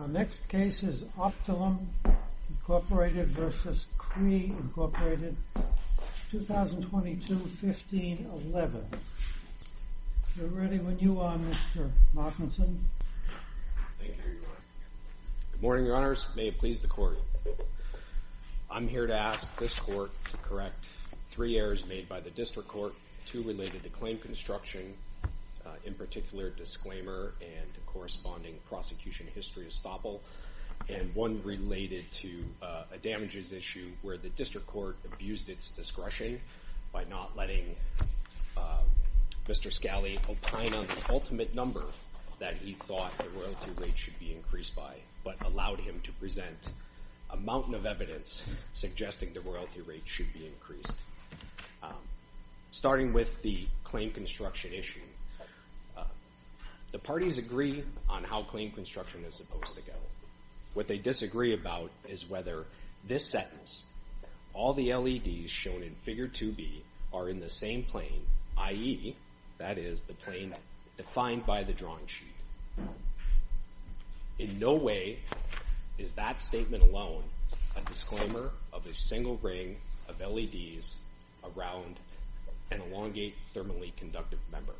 Our next case is OptoLum, Inc. v. Cree, Inc., 2022-15-11. If you're ready when you are, Mr. Martinson. Thank you. Here you are. Good morning, Your Honors. May it please the Court. I'm here to ask this Court to correct three errors made by the District Court, two related to claim construction, in particular disclaimer and corresponding prosecution history estoppel, and one related to a damages issue where the District Court abused its discretion by not letting Mr. Scali opine on the ultimate number that he thought the royalty rate should be increased by, but allowed him to present a mountain of evidence suggesting the royalty rate should be increased. Starting with the claim construction issue, the parties agree on how claim construction is supposed to go. What they disagree about is whether this sentence, all the LEDs shown in Figure 2B are in the same plane, i.e., that is, the plane defined by the drawing sheet. In no way is that statement alone a disclaimer of a single ring of LEDs around an elongate thermally conductive member.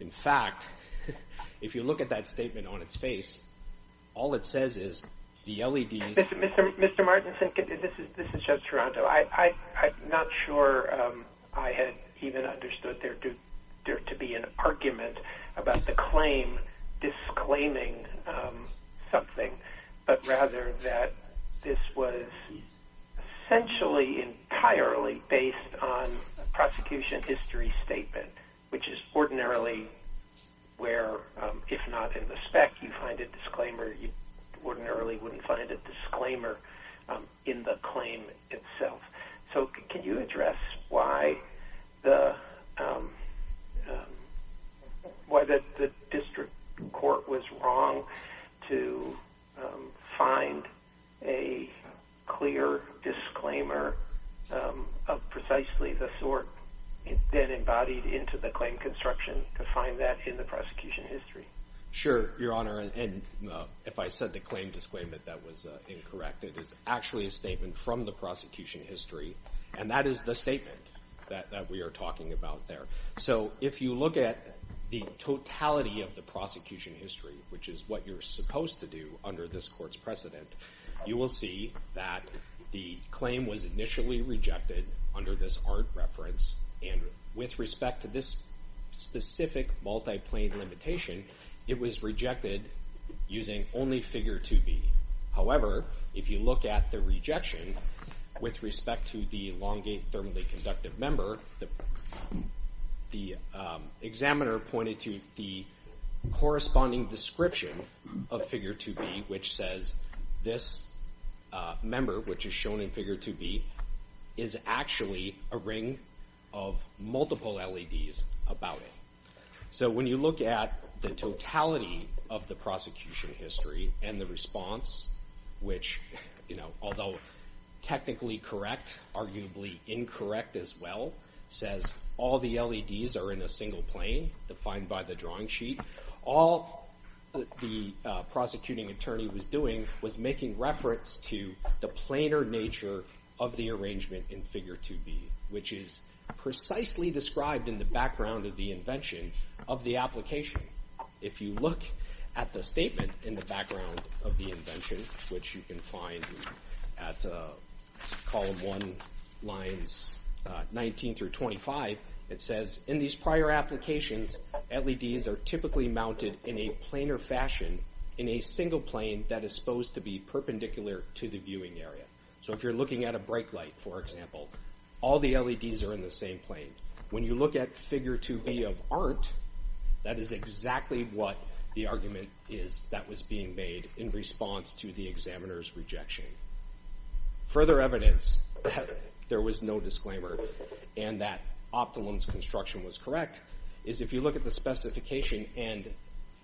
In fact, if you look at that statement on its face, all it says is the LEDs... Mr. Martinson, this is Judge Toronto. I'm not sure I had even understood there to be an argument about the claim disclaiming something, but rather that this was essentially entirely based on a prosecution history statement, which is ordinarily where, if not in the spec, you find a disclaimer. You ordinarily wouldn't find a disclaimer in the claim itself. So can you address why the district court was wrong to find a clear disclaimer of precisely the sort that embodied into the claim construction to find that in the prosecution history? Sure, Your Honor, and if I said the claim disclaimant, that was incorrect. It is actually a statement from the prosecution history, and that is the statement that we are talking about there. So if you look at the totality of the prosecution history, which is what you're supposed to do under this court's precedent, you will see that the claim was initially rejected under this art reference, and with respect to this specific multi-plane limitation, it was rejected using only Figure 2B. However, if you look at the rejection with respect to the elongate thermally conductive member, the examiner pointed to the corresponding description of Figure 2B, which says this member, which is shown in Figure 2B, is actually a ring of multiple LEDs about it. So when you look at the totality of the prosecution history and the response, which although technically correct, arguably incorrect as well, says all the LEDs are in a single plane defined by the drawing sheet, all the prosecuting attorney was doing was making reference to the planar nature of the arrangement in Figure 2B, which is precisely described in the background of the invention of the application. If you look at the statement in the background of the invention, which you can find at column 1, lines 19 through 25, it says in these prior applications, LEDs are typically mounted in a planar fashion in a single plane that is supposed to be perpendicular to the viewing area. So if you're looking at a brake light, for example, all the LEDs are in the same plane. When you look at Figure 2B of art, that is exactly what the argument is that was being made in response to the examiner's rejection. Further evidence that there was no disclaimer and that Optelum's construction was correct is if you look at the specification and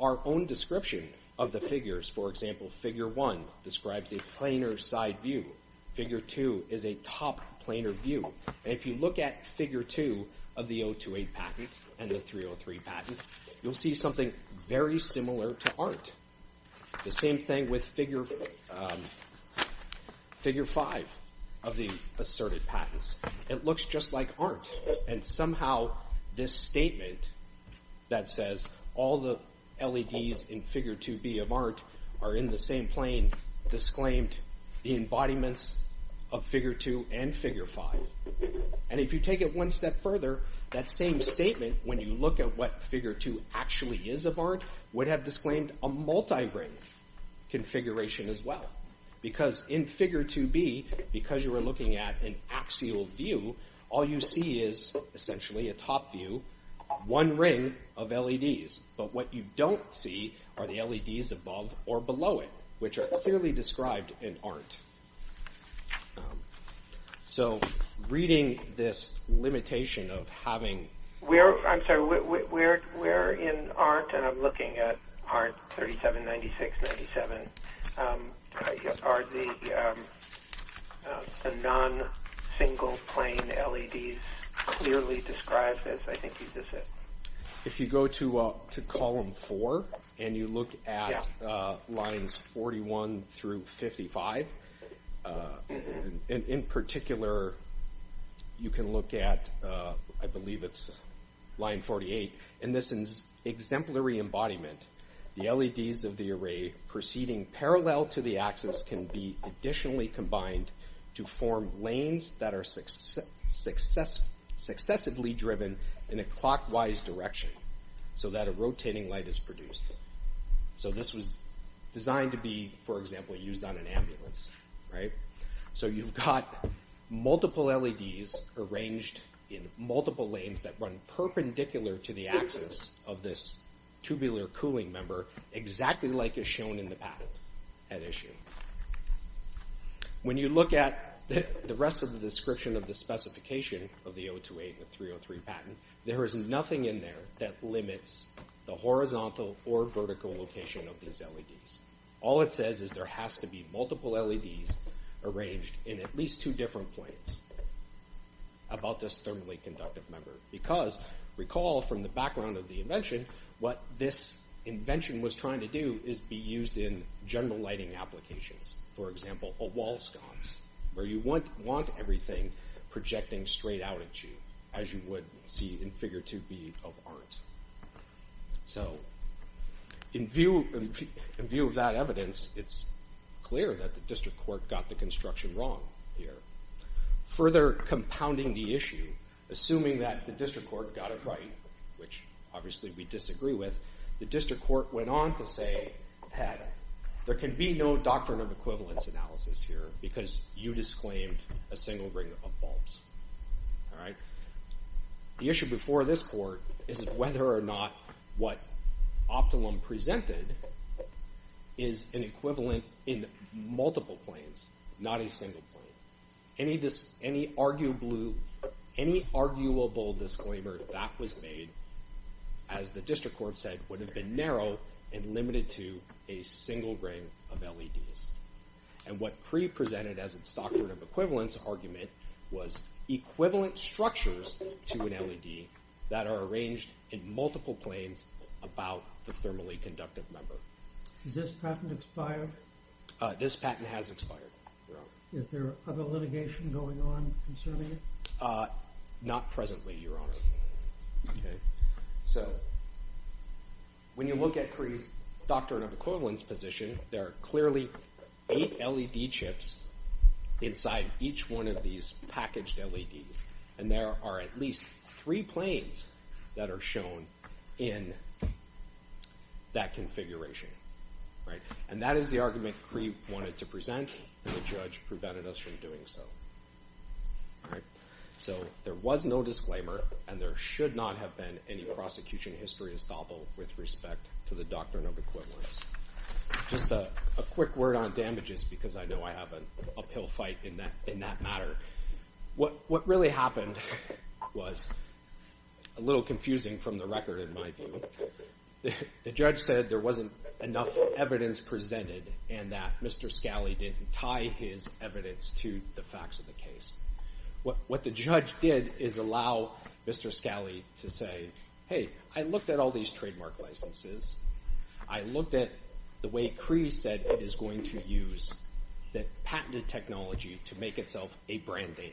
our own description of the figures, for example, Figure 1 describes a planar side view. Figure 2 is a top planar view. And if you look at Figure 2 of the 028 patent and the 303 patent, you'll see something very similar to art. The same thing with Figure 5 of the asserted patents. It looks just like art, and somehow this statement that says all the LEDs in Figure 2B of art are in the same plane disclaimed the embodiments of Figure 2 and Figure 5. And if you take it one step further, that same statement, when you look at what Figure 2 actually is of art, would have disclaimed a multi-ring configuration as well. Because in Figure 2B, because you were looking at an axial view, all you see is essentially a top view, one ring of LEDs. But what you don't see are the LEDs above or below it, which are clearly described in art. So reading this limitation of having... I'm looking at Art 3796-97. Are the non-single-plane LEDs clearly described as I think you said? If you go to Column 4 and you look at Lines 41 through 55, in particular you can look at, I believe it's Line 48, in this exemplary embodiment, the LEDs of the array proceeding parallel to the axis can be additionally combined to form lanes that are successively driven in a clockwise direction so that a rotating light is produced. So this was designed to be, for example, used on an ambulance. So you've got multiple LEDs arranged in multiple lanes that run perpendicular to the axis of this tubular cooling member exactly like is shown in the patent at issue. When you look at the rest of the description of the specification of the 028 and the 303 patent, there is nothing in there that limits the horizontal or vertical location of these LEDs. All it says is there has to be multiple LEDs arranged in at least two different planes about this thermally conductive member because, recall from the background of the invention, what this invention was trying to do is be used in general lighting applications. For example, a wall sconce where you want everything projecting straight out at you as you would see in Figure 2B of art. So in view of that evidence, it's clear that the district court got the construction wrong here. Further compounding the issue, assuming that the district court got it right, which obviously we disagree with, the district court went on to say, Pat, there can be no doctrine of equivalence analysis here because you disclaimed a single ring of bulbs. The issue before this court is whether or not what Optalum presented is an equivalent in multiple planes, not a single plane. Any arguable disclaimer that was made, as the district court said, would have been narrow and limited to a single ring of LEDs. And what Cree presented as its doctrine of equivalence argument was equivalent structures to an LED that are arranged in multiple planes about the thermally conductive member. Is this patent expired? This patent has expired, Your Honor. Is there other litigation going on concerning it? Not presently, Your Honor. So when you look at Cree's doctrine of equivalence position, there are clearly eight LED chips inside each one of these packaged LEDs, and there are at least three planes that are shown in that configuration. And that is the argument Cree wanted to present, and the judge prevented us from doing so. So there was no disclaimer, and there should not have been any prosecution history estoppel with respect to the doctrine of equivalence. Just a quick word on damages because I know I have an uphill fight in that matter. What really happened was a little confusing from the record in my view. The judge said there wasn't enough evidence presented and that Mr. Scali didn't tie his evidence to the facts of the case. What the judge did is allow Mr. Scali to say, hey, I looked at all these trademark licenses. I looked at the way Cree said it is going to use the patented technology to make itself a brand name.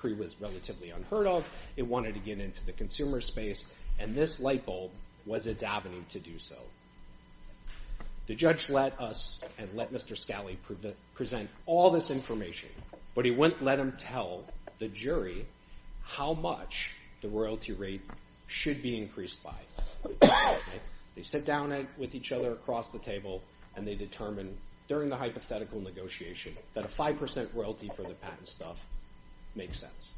Cree was relatively unheard of. It wanted to get into the consumer space, and this light bulb was its avenue to do so. The judge let us and let Mr. Scali present all this information, but he wouldn't let him tell the jury how much the royalty rate should be increased by. They sit down with each other across the table, and they determine during the hypothetical negotiation that a 5% royalty for the patent stuff makes sense.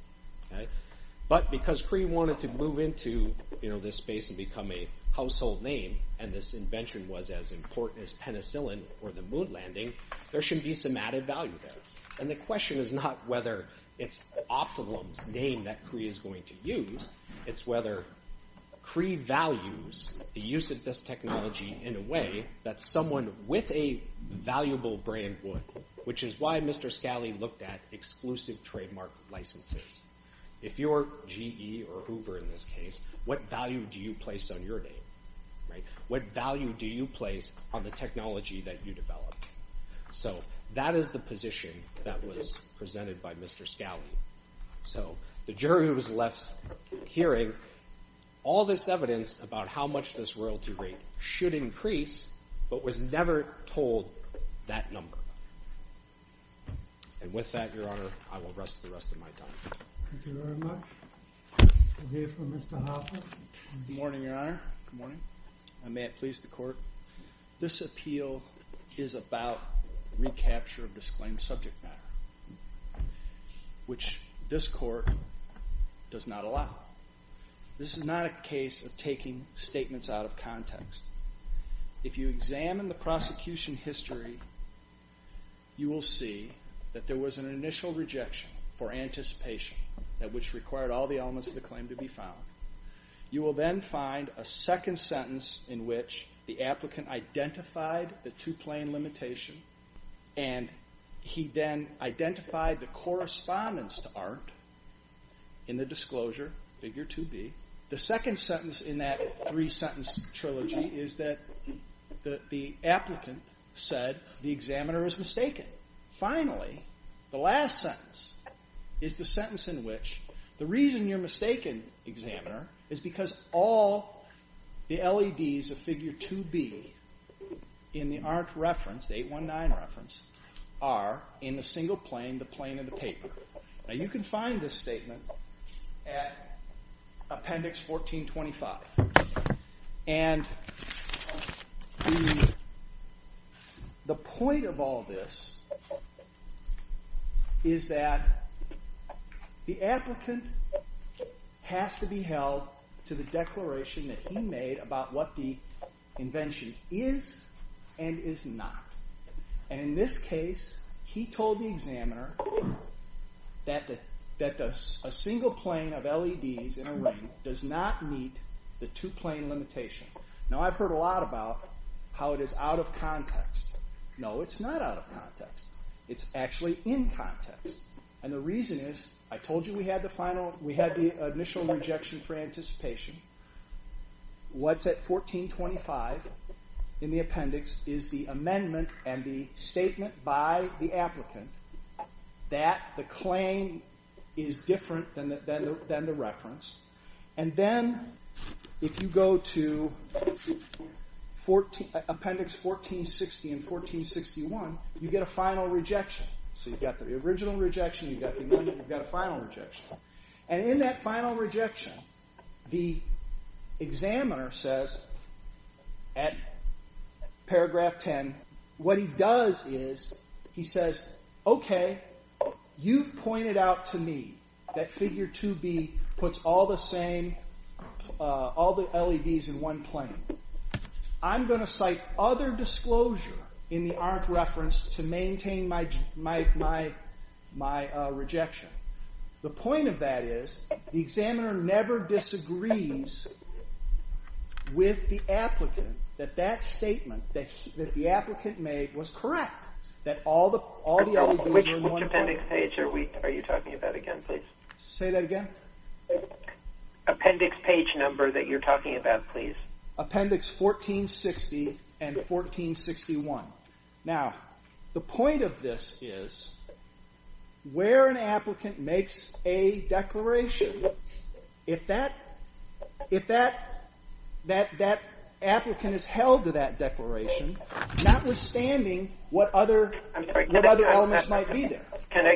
But because Cree wanted to move into this space and become a household name, and this invention was as important as penicillin or the moon landing, there should be some added value there. The question is not whether it's Optimum's name that Cree is going to use. It's whether Cree values the use of this technology in a way that someone with a valuable brand would, which is why Mr. Scali looked at exclusive trademark licenses. If you're GE or Uber in this case, what value do you place on your name? What value do you place on the technology that you developed? So that is the position that was presented by Mr. Scali. So the jury was left hearing all this evidence about how much this royalty rate should increase, but was never told that number. And with that, Your Honor, I will rest the rest of my time. Thank you very much. We'll hear from Mr. Hoffman. Good morning, Your Honor. Good morning. And may it please the Court, this appeal is about recapture of disclaimed subject matter, which this Court does not allow. This is not a case of taking statements out of context. If you examine the prosecution history, you will see that there was an initial rejection for anticipation which required all the elements of the claim to be found. You will then find a second sentence in which the applicant identified the two-plane limitation, and he then identified the correspondence to Art in the disclosure, figure 2B. The second sentence in that three-sentence trilogy is that the applicant said the examiner is mistaken. Finally, the last sentence is the sentence in which the reason you're mistaken, examiner, is because all the LEDs of figure 2B in the Art reference, the 819 reference, are in the single plane, the plane of the paper. Now, you can find this statement at Appendix 1425. And the point of all this is that the applicant has to be held to the declaration that he made about what the invention is and is not. And in this case, he told the examiner that a single plane of LEDs in a ring does not meet the two-plane limitation. Now, I've heard a lot about how it is out of context. No, it's not out of context. It's actually in context. And the reason is, I told you we had the initial rejection for anticipation. What's at 1425 in the appendix is the amendment and the statement by the applicant that the claim is different than the reference. And then, if you go to Appendix 1460 and 1461, you get a final rejection. So you've got the original rejection, you've got the amendment, you've got a final rejection. And in that final rejection, the examiner says, at paragraph 10, what he does is, he says, okay, you've pointed out to me that Figure 2B puts all the LEDs in one plane. I'm going to cite other disclosure in the ARNT reference to maintain my rejection. The point of that is, the examiner never disagrees with the applicant that that statement that the applicant made was correct, that all the LEDs were in one plane. Which appendix page are you talking about again, please? Say that again. Appendix page number that you're talking about, please. Appendix 1460 and 1461. Now, the point of this is, where an applicant makes a declaration, if that applicant is held to that declaration, notwithstanding what other elements might be there. Can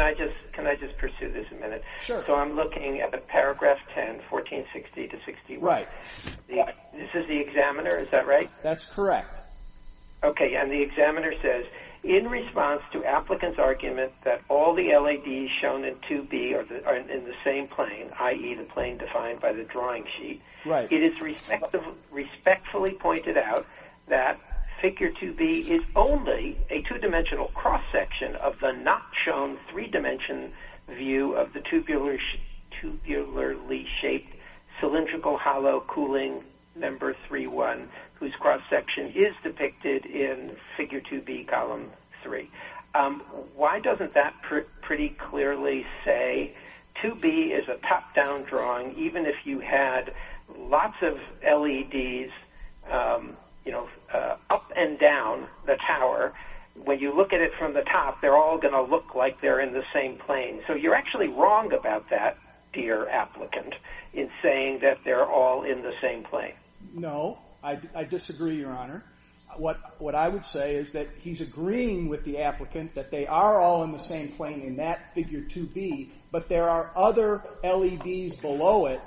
I just pursue this a minute? Sure. So I'm looking at the paragraph 10, 1460 to 61. Right. This is the examiner, is that right? That's correct. Okay, and the examiner says, in response to applicant's argument that all the LEDs shown in 2B are in the same plane, i.e., the plane defined by the drawing sheet, it is respectfully pointed out that Figure 2B is only a two-dimensional cross-section of the not shown three-dimension view of the tubularly shaped cylindrical hollow cooling number 31, whose cross-section is depicted in Figure 2B, Column 3. Why doesn't that pretty clearly say 2B is a top-down drawing, even if you had lots of LEDs up and down the tower? When you look at it from the top, they're all going to look like they're in the same plane. So you're actually wrong about that, dear applicant, in saying that they're all in the same plane. No, I disagree, Your Honor. What I would say is that he's agreeing with the applicant that they are all in the same plane in that Figure 2B, but there are other LEDs below it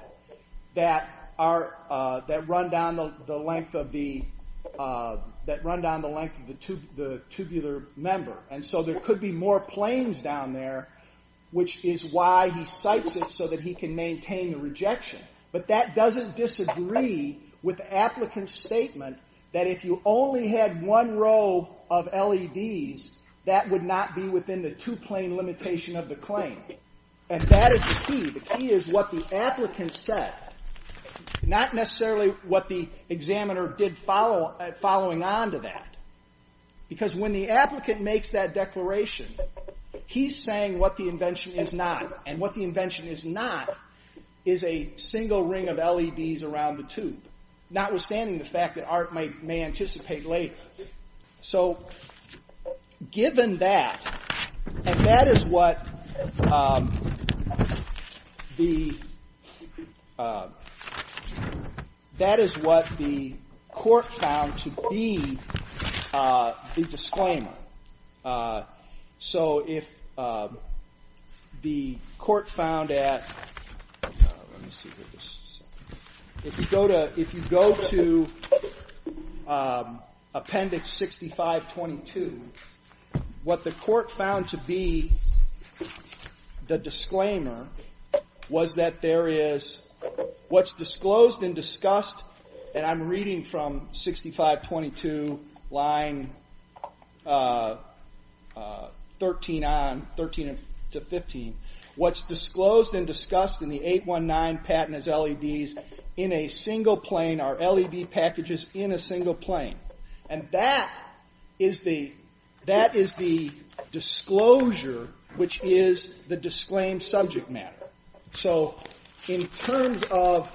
that run down the length of the tubular member, and so there could be more planes down there, which is why he cites it, so that he can maintain the rejection. But that doesn't disagree with the applicant's statement that if you only had one row of LEDs, that would not be within the two-plane limitation of the claim. And that is the key. The key is what the applicant said, not necessarily what the examiner did following on to that. Because when the applicant makes that declaration, he's saying what the invention is not, and what the invention is not is a single ring of LEDs around the tube, notwithstanding the fact that Art may anticipate later. So given that, and that is what the court found to be the disclaimer. So if the court found at... If you go to Appendix 6522, what the court found to be the disclaimer was that there is what's disclosed and discussed, and I'm reading from 6522, line 13 on, 13 to 15. What's disclosed and discussed in the 819 patent as LEDs in a single plane are LED packages in a single plane. And that is the disclosure, which is the disclaimed subject matter. So in terms of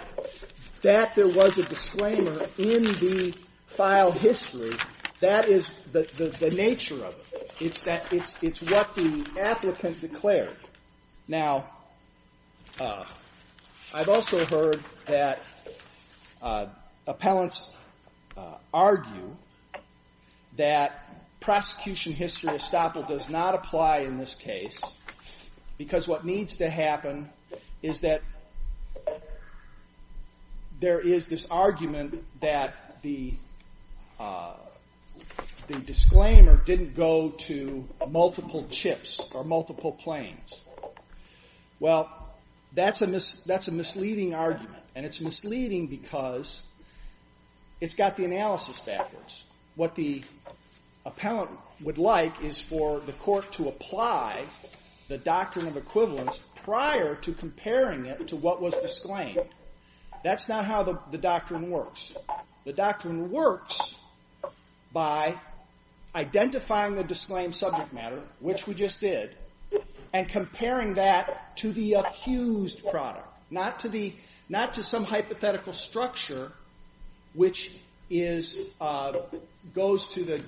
that there was a disclaimer in the file history, that is the nature of it. It's what the applicant declared. Now, I've also heard that appellants argue that prosecution history estoppel does not apply in this case because what needs to happen is that there is this argument that the disclaimer didn't go to multiple chips or multiple planes. Well, that's a misleading argument, and it's misleading because it's got the analysis backwards. What the appellant would like is for the court to apply the doctrine of equivalence prior to comparing it to what was disclaimed. That's not how the doctrine works. The doctrine works by identifying the disclaimed subject matter, which we just did, and comparing that to the accused product, not to some hypothetical structure, which goes to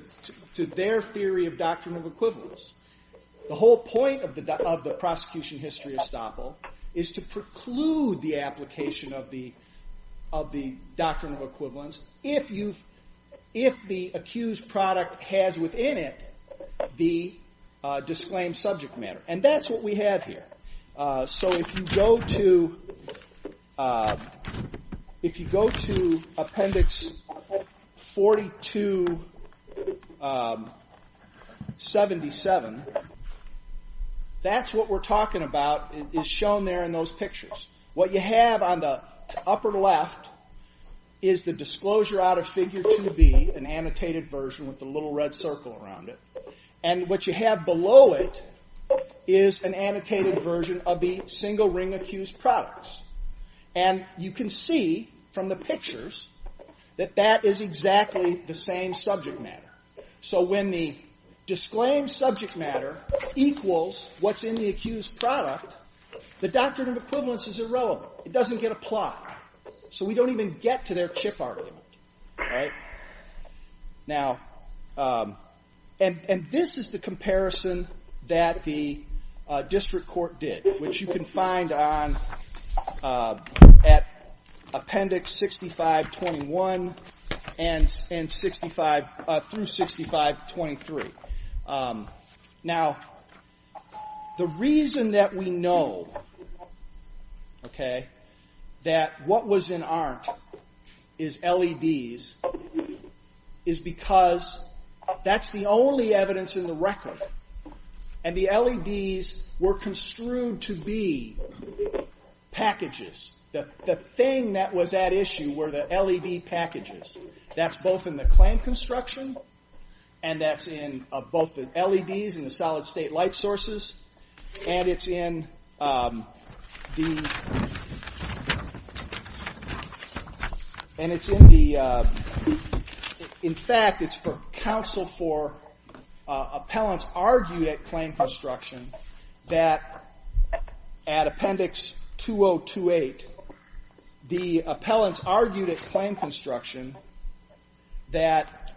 their theory of doctrine of equivalence. The whole point of the prosecution history estoppel is to preclude the application of the doctrine of equivalence if the accused product has within it the disclaimed subject matter. And that's what we have here. So if you go to Appendix 4277, that's what we're talking about is shown there in those pictures. What you have on the upper left is the disclosure out of Figure 2B, an annotated version with the little red circle around it, and what you have below it is an annotated version of the single-ring accused products. And you can see from the pictures that that is exactly the same subject matter. So when the disclaimed subject matter equals what's in the accused product, the doctrine of equivalence is irrelevant. It doesn't get applied. So we don't even get to their chip argument. And this is the comparison that the district court did, which you can find at Appendix 6521 through 6523. Now, the reason that we know that what was in ARNT is LEDs is because that's the only evidence in the record, and the LEDs were construed to be packages. The thing that was at issue were the LED packages. That's both in the claim construction, and that's in both the LEDs and the solid-state light sources, and it's in the... In fact, it's for counsel for appellants argued at claim construction that at Appendix 2028, the appellants argued at claim construction that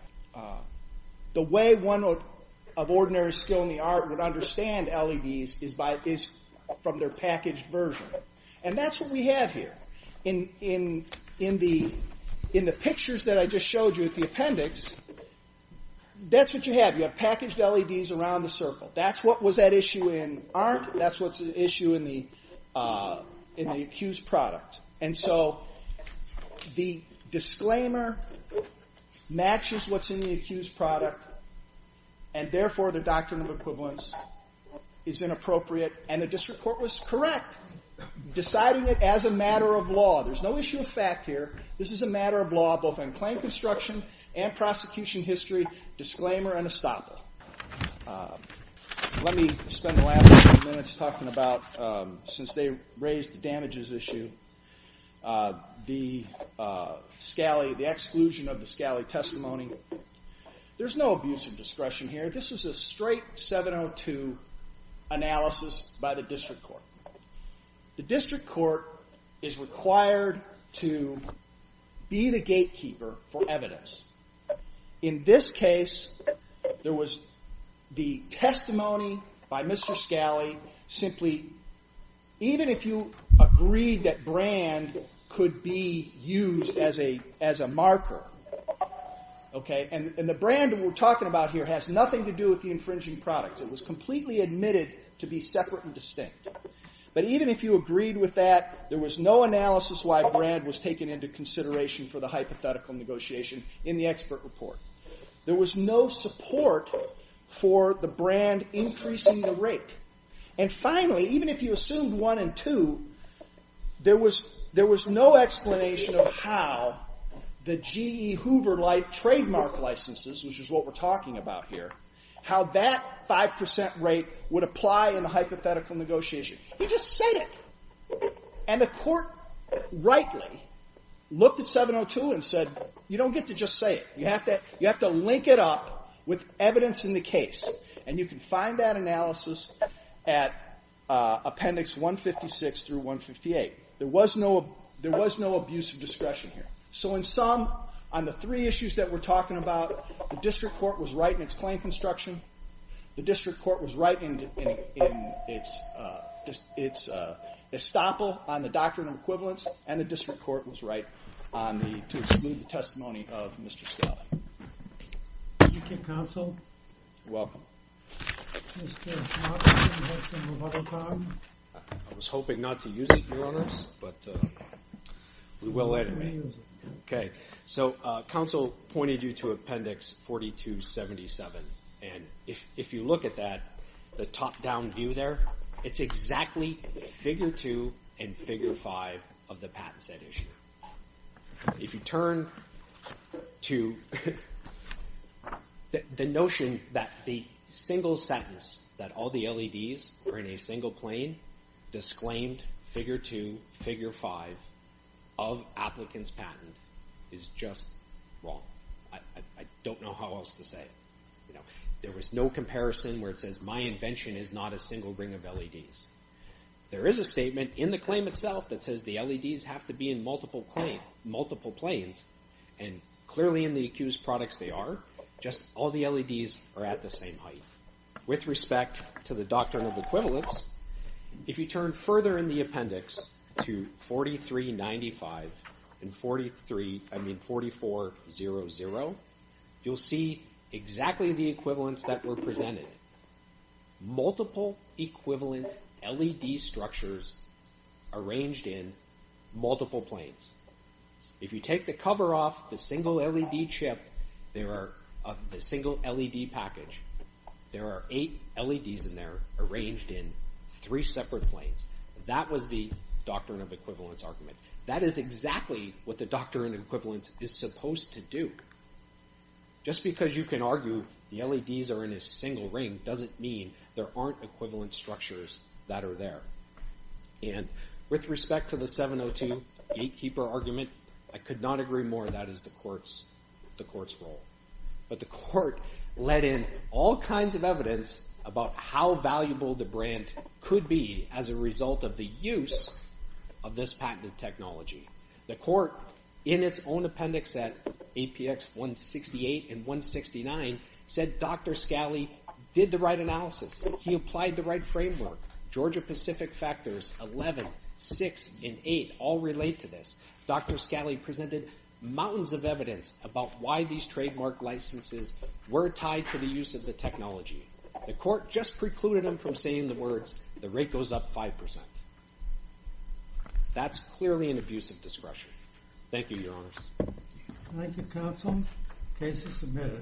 the way one of ordinary skill in the art would understand LEDs is from their packaged version. And that's what we have here. In the pictures that I just showed you at the appendix, that's what you have. You have packaged LEDs around the circle. That's what was at issue in ARNT. That's what's at issue in the accused product. And so the disclaimer matches what's in the accused product, and therefore the doctrine of equivalence is inappropriate, and the district court was correct, deciding it as a matter of law. There's no issue of fact here. This is a matter of law both in claim construction and prosecution history. Disclaimer and estoppel. Let me spend the last few minutes talking about, since they raised the damages issue, the exclusion of the Scali testimony. There's no abuse of discretion here. This is a straight 702 analysis by the district court. The district court is required to be the gatekeeper for evidence. In this case, there was the testimony by Mr. Scali, simply even if you agreed that brand could be used as a marker, and the brand we're talking about here has nothing to do with the infringing products. It was completely admitted to be separate and distinct, but even if you agreed with that, there was no analysis why brand was taken into consideration for the hypothetical negotiation in the expert report. There was no support for the brand increasing the rate, and finally, even if you assumed one and two, there was no explanation of how the GE Hoover-like trademark licenses, which is what we're talking about here, how that 5% rate would apply in the hypothetical negotiation. He just said it. And the court rightly looked at 702 and said, you don't get to just say it. You have to link it up with evidence in the case, and you can find that analysis at appendix 156 through 158. There was no abuse of discretion here. So in sum, on the three issues that we're talking about, the district court was right in its claim construction, the district court was right in its estoppel on the doctrine of equivalence, and the district court was right to exclude the testimony of Mr. Scali. Thank you, counsel. You're welcome. I was hoping not to use it, your honors, but we will anyway. Okay. So counsel pointed you to appendix 4277, and if you look at that, the top-down view there, it's exactly figure 2 and figure 5 of the patent set issue. If you turn to the notion that the single sentence, that all the LEDs are in a single plane, disclaimed figure 2, figure 5 of applicant's patent is just wrong. I don't know how else to say it. There was no comparison where it says, my invention is not a single ring of LEDs. There is a statement in the claim itself that says the LEDs have to be in multiple planes, and clearly in the accused products they are, just all the LEDs are at the same height. With respect to the doctrine of equivalence, if you turn further in the appendix to 4395 and 4400, you'll see exactly the equivalence that were presented. Multiple equivalent LED structures arranged in multiple planes. If you take the cover off the single LED chip, the single LED package, there are eight LEDs in there arranged in three separate planes. That was the doctrine of equivalence argument. That is exactly what the doctrine of equivalence is supposed to do. Just because you can argue the LEDs are in a single ring, doesn't mean there aren't equivalent structures that are there. With respect to the 702 gatekeeper argument, I could not agree more. That is the court's role. But the court let in all kinds of evidence about how valuable the brand could be as a result of the use of this patented technology. The court, in its own appendix at APX 168 and 169, said Dr. Scali did the right analysis. He applied the right framework. Georgia-Pacific factors 11, 6, and 8 all relate to this. Dr. Scali presented mountains of evidence about why these trademark licenses were tied to the use of the technology. The court just precluded him from saying the words, the rate goes up 5%. That's clearly an abuse of discretion. Thank you, Your Honors. Thank you, counsel. Case is submitted.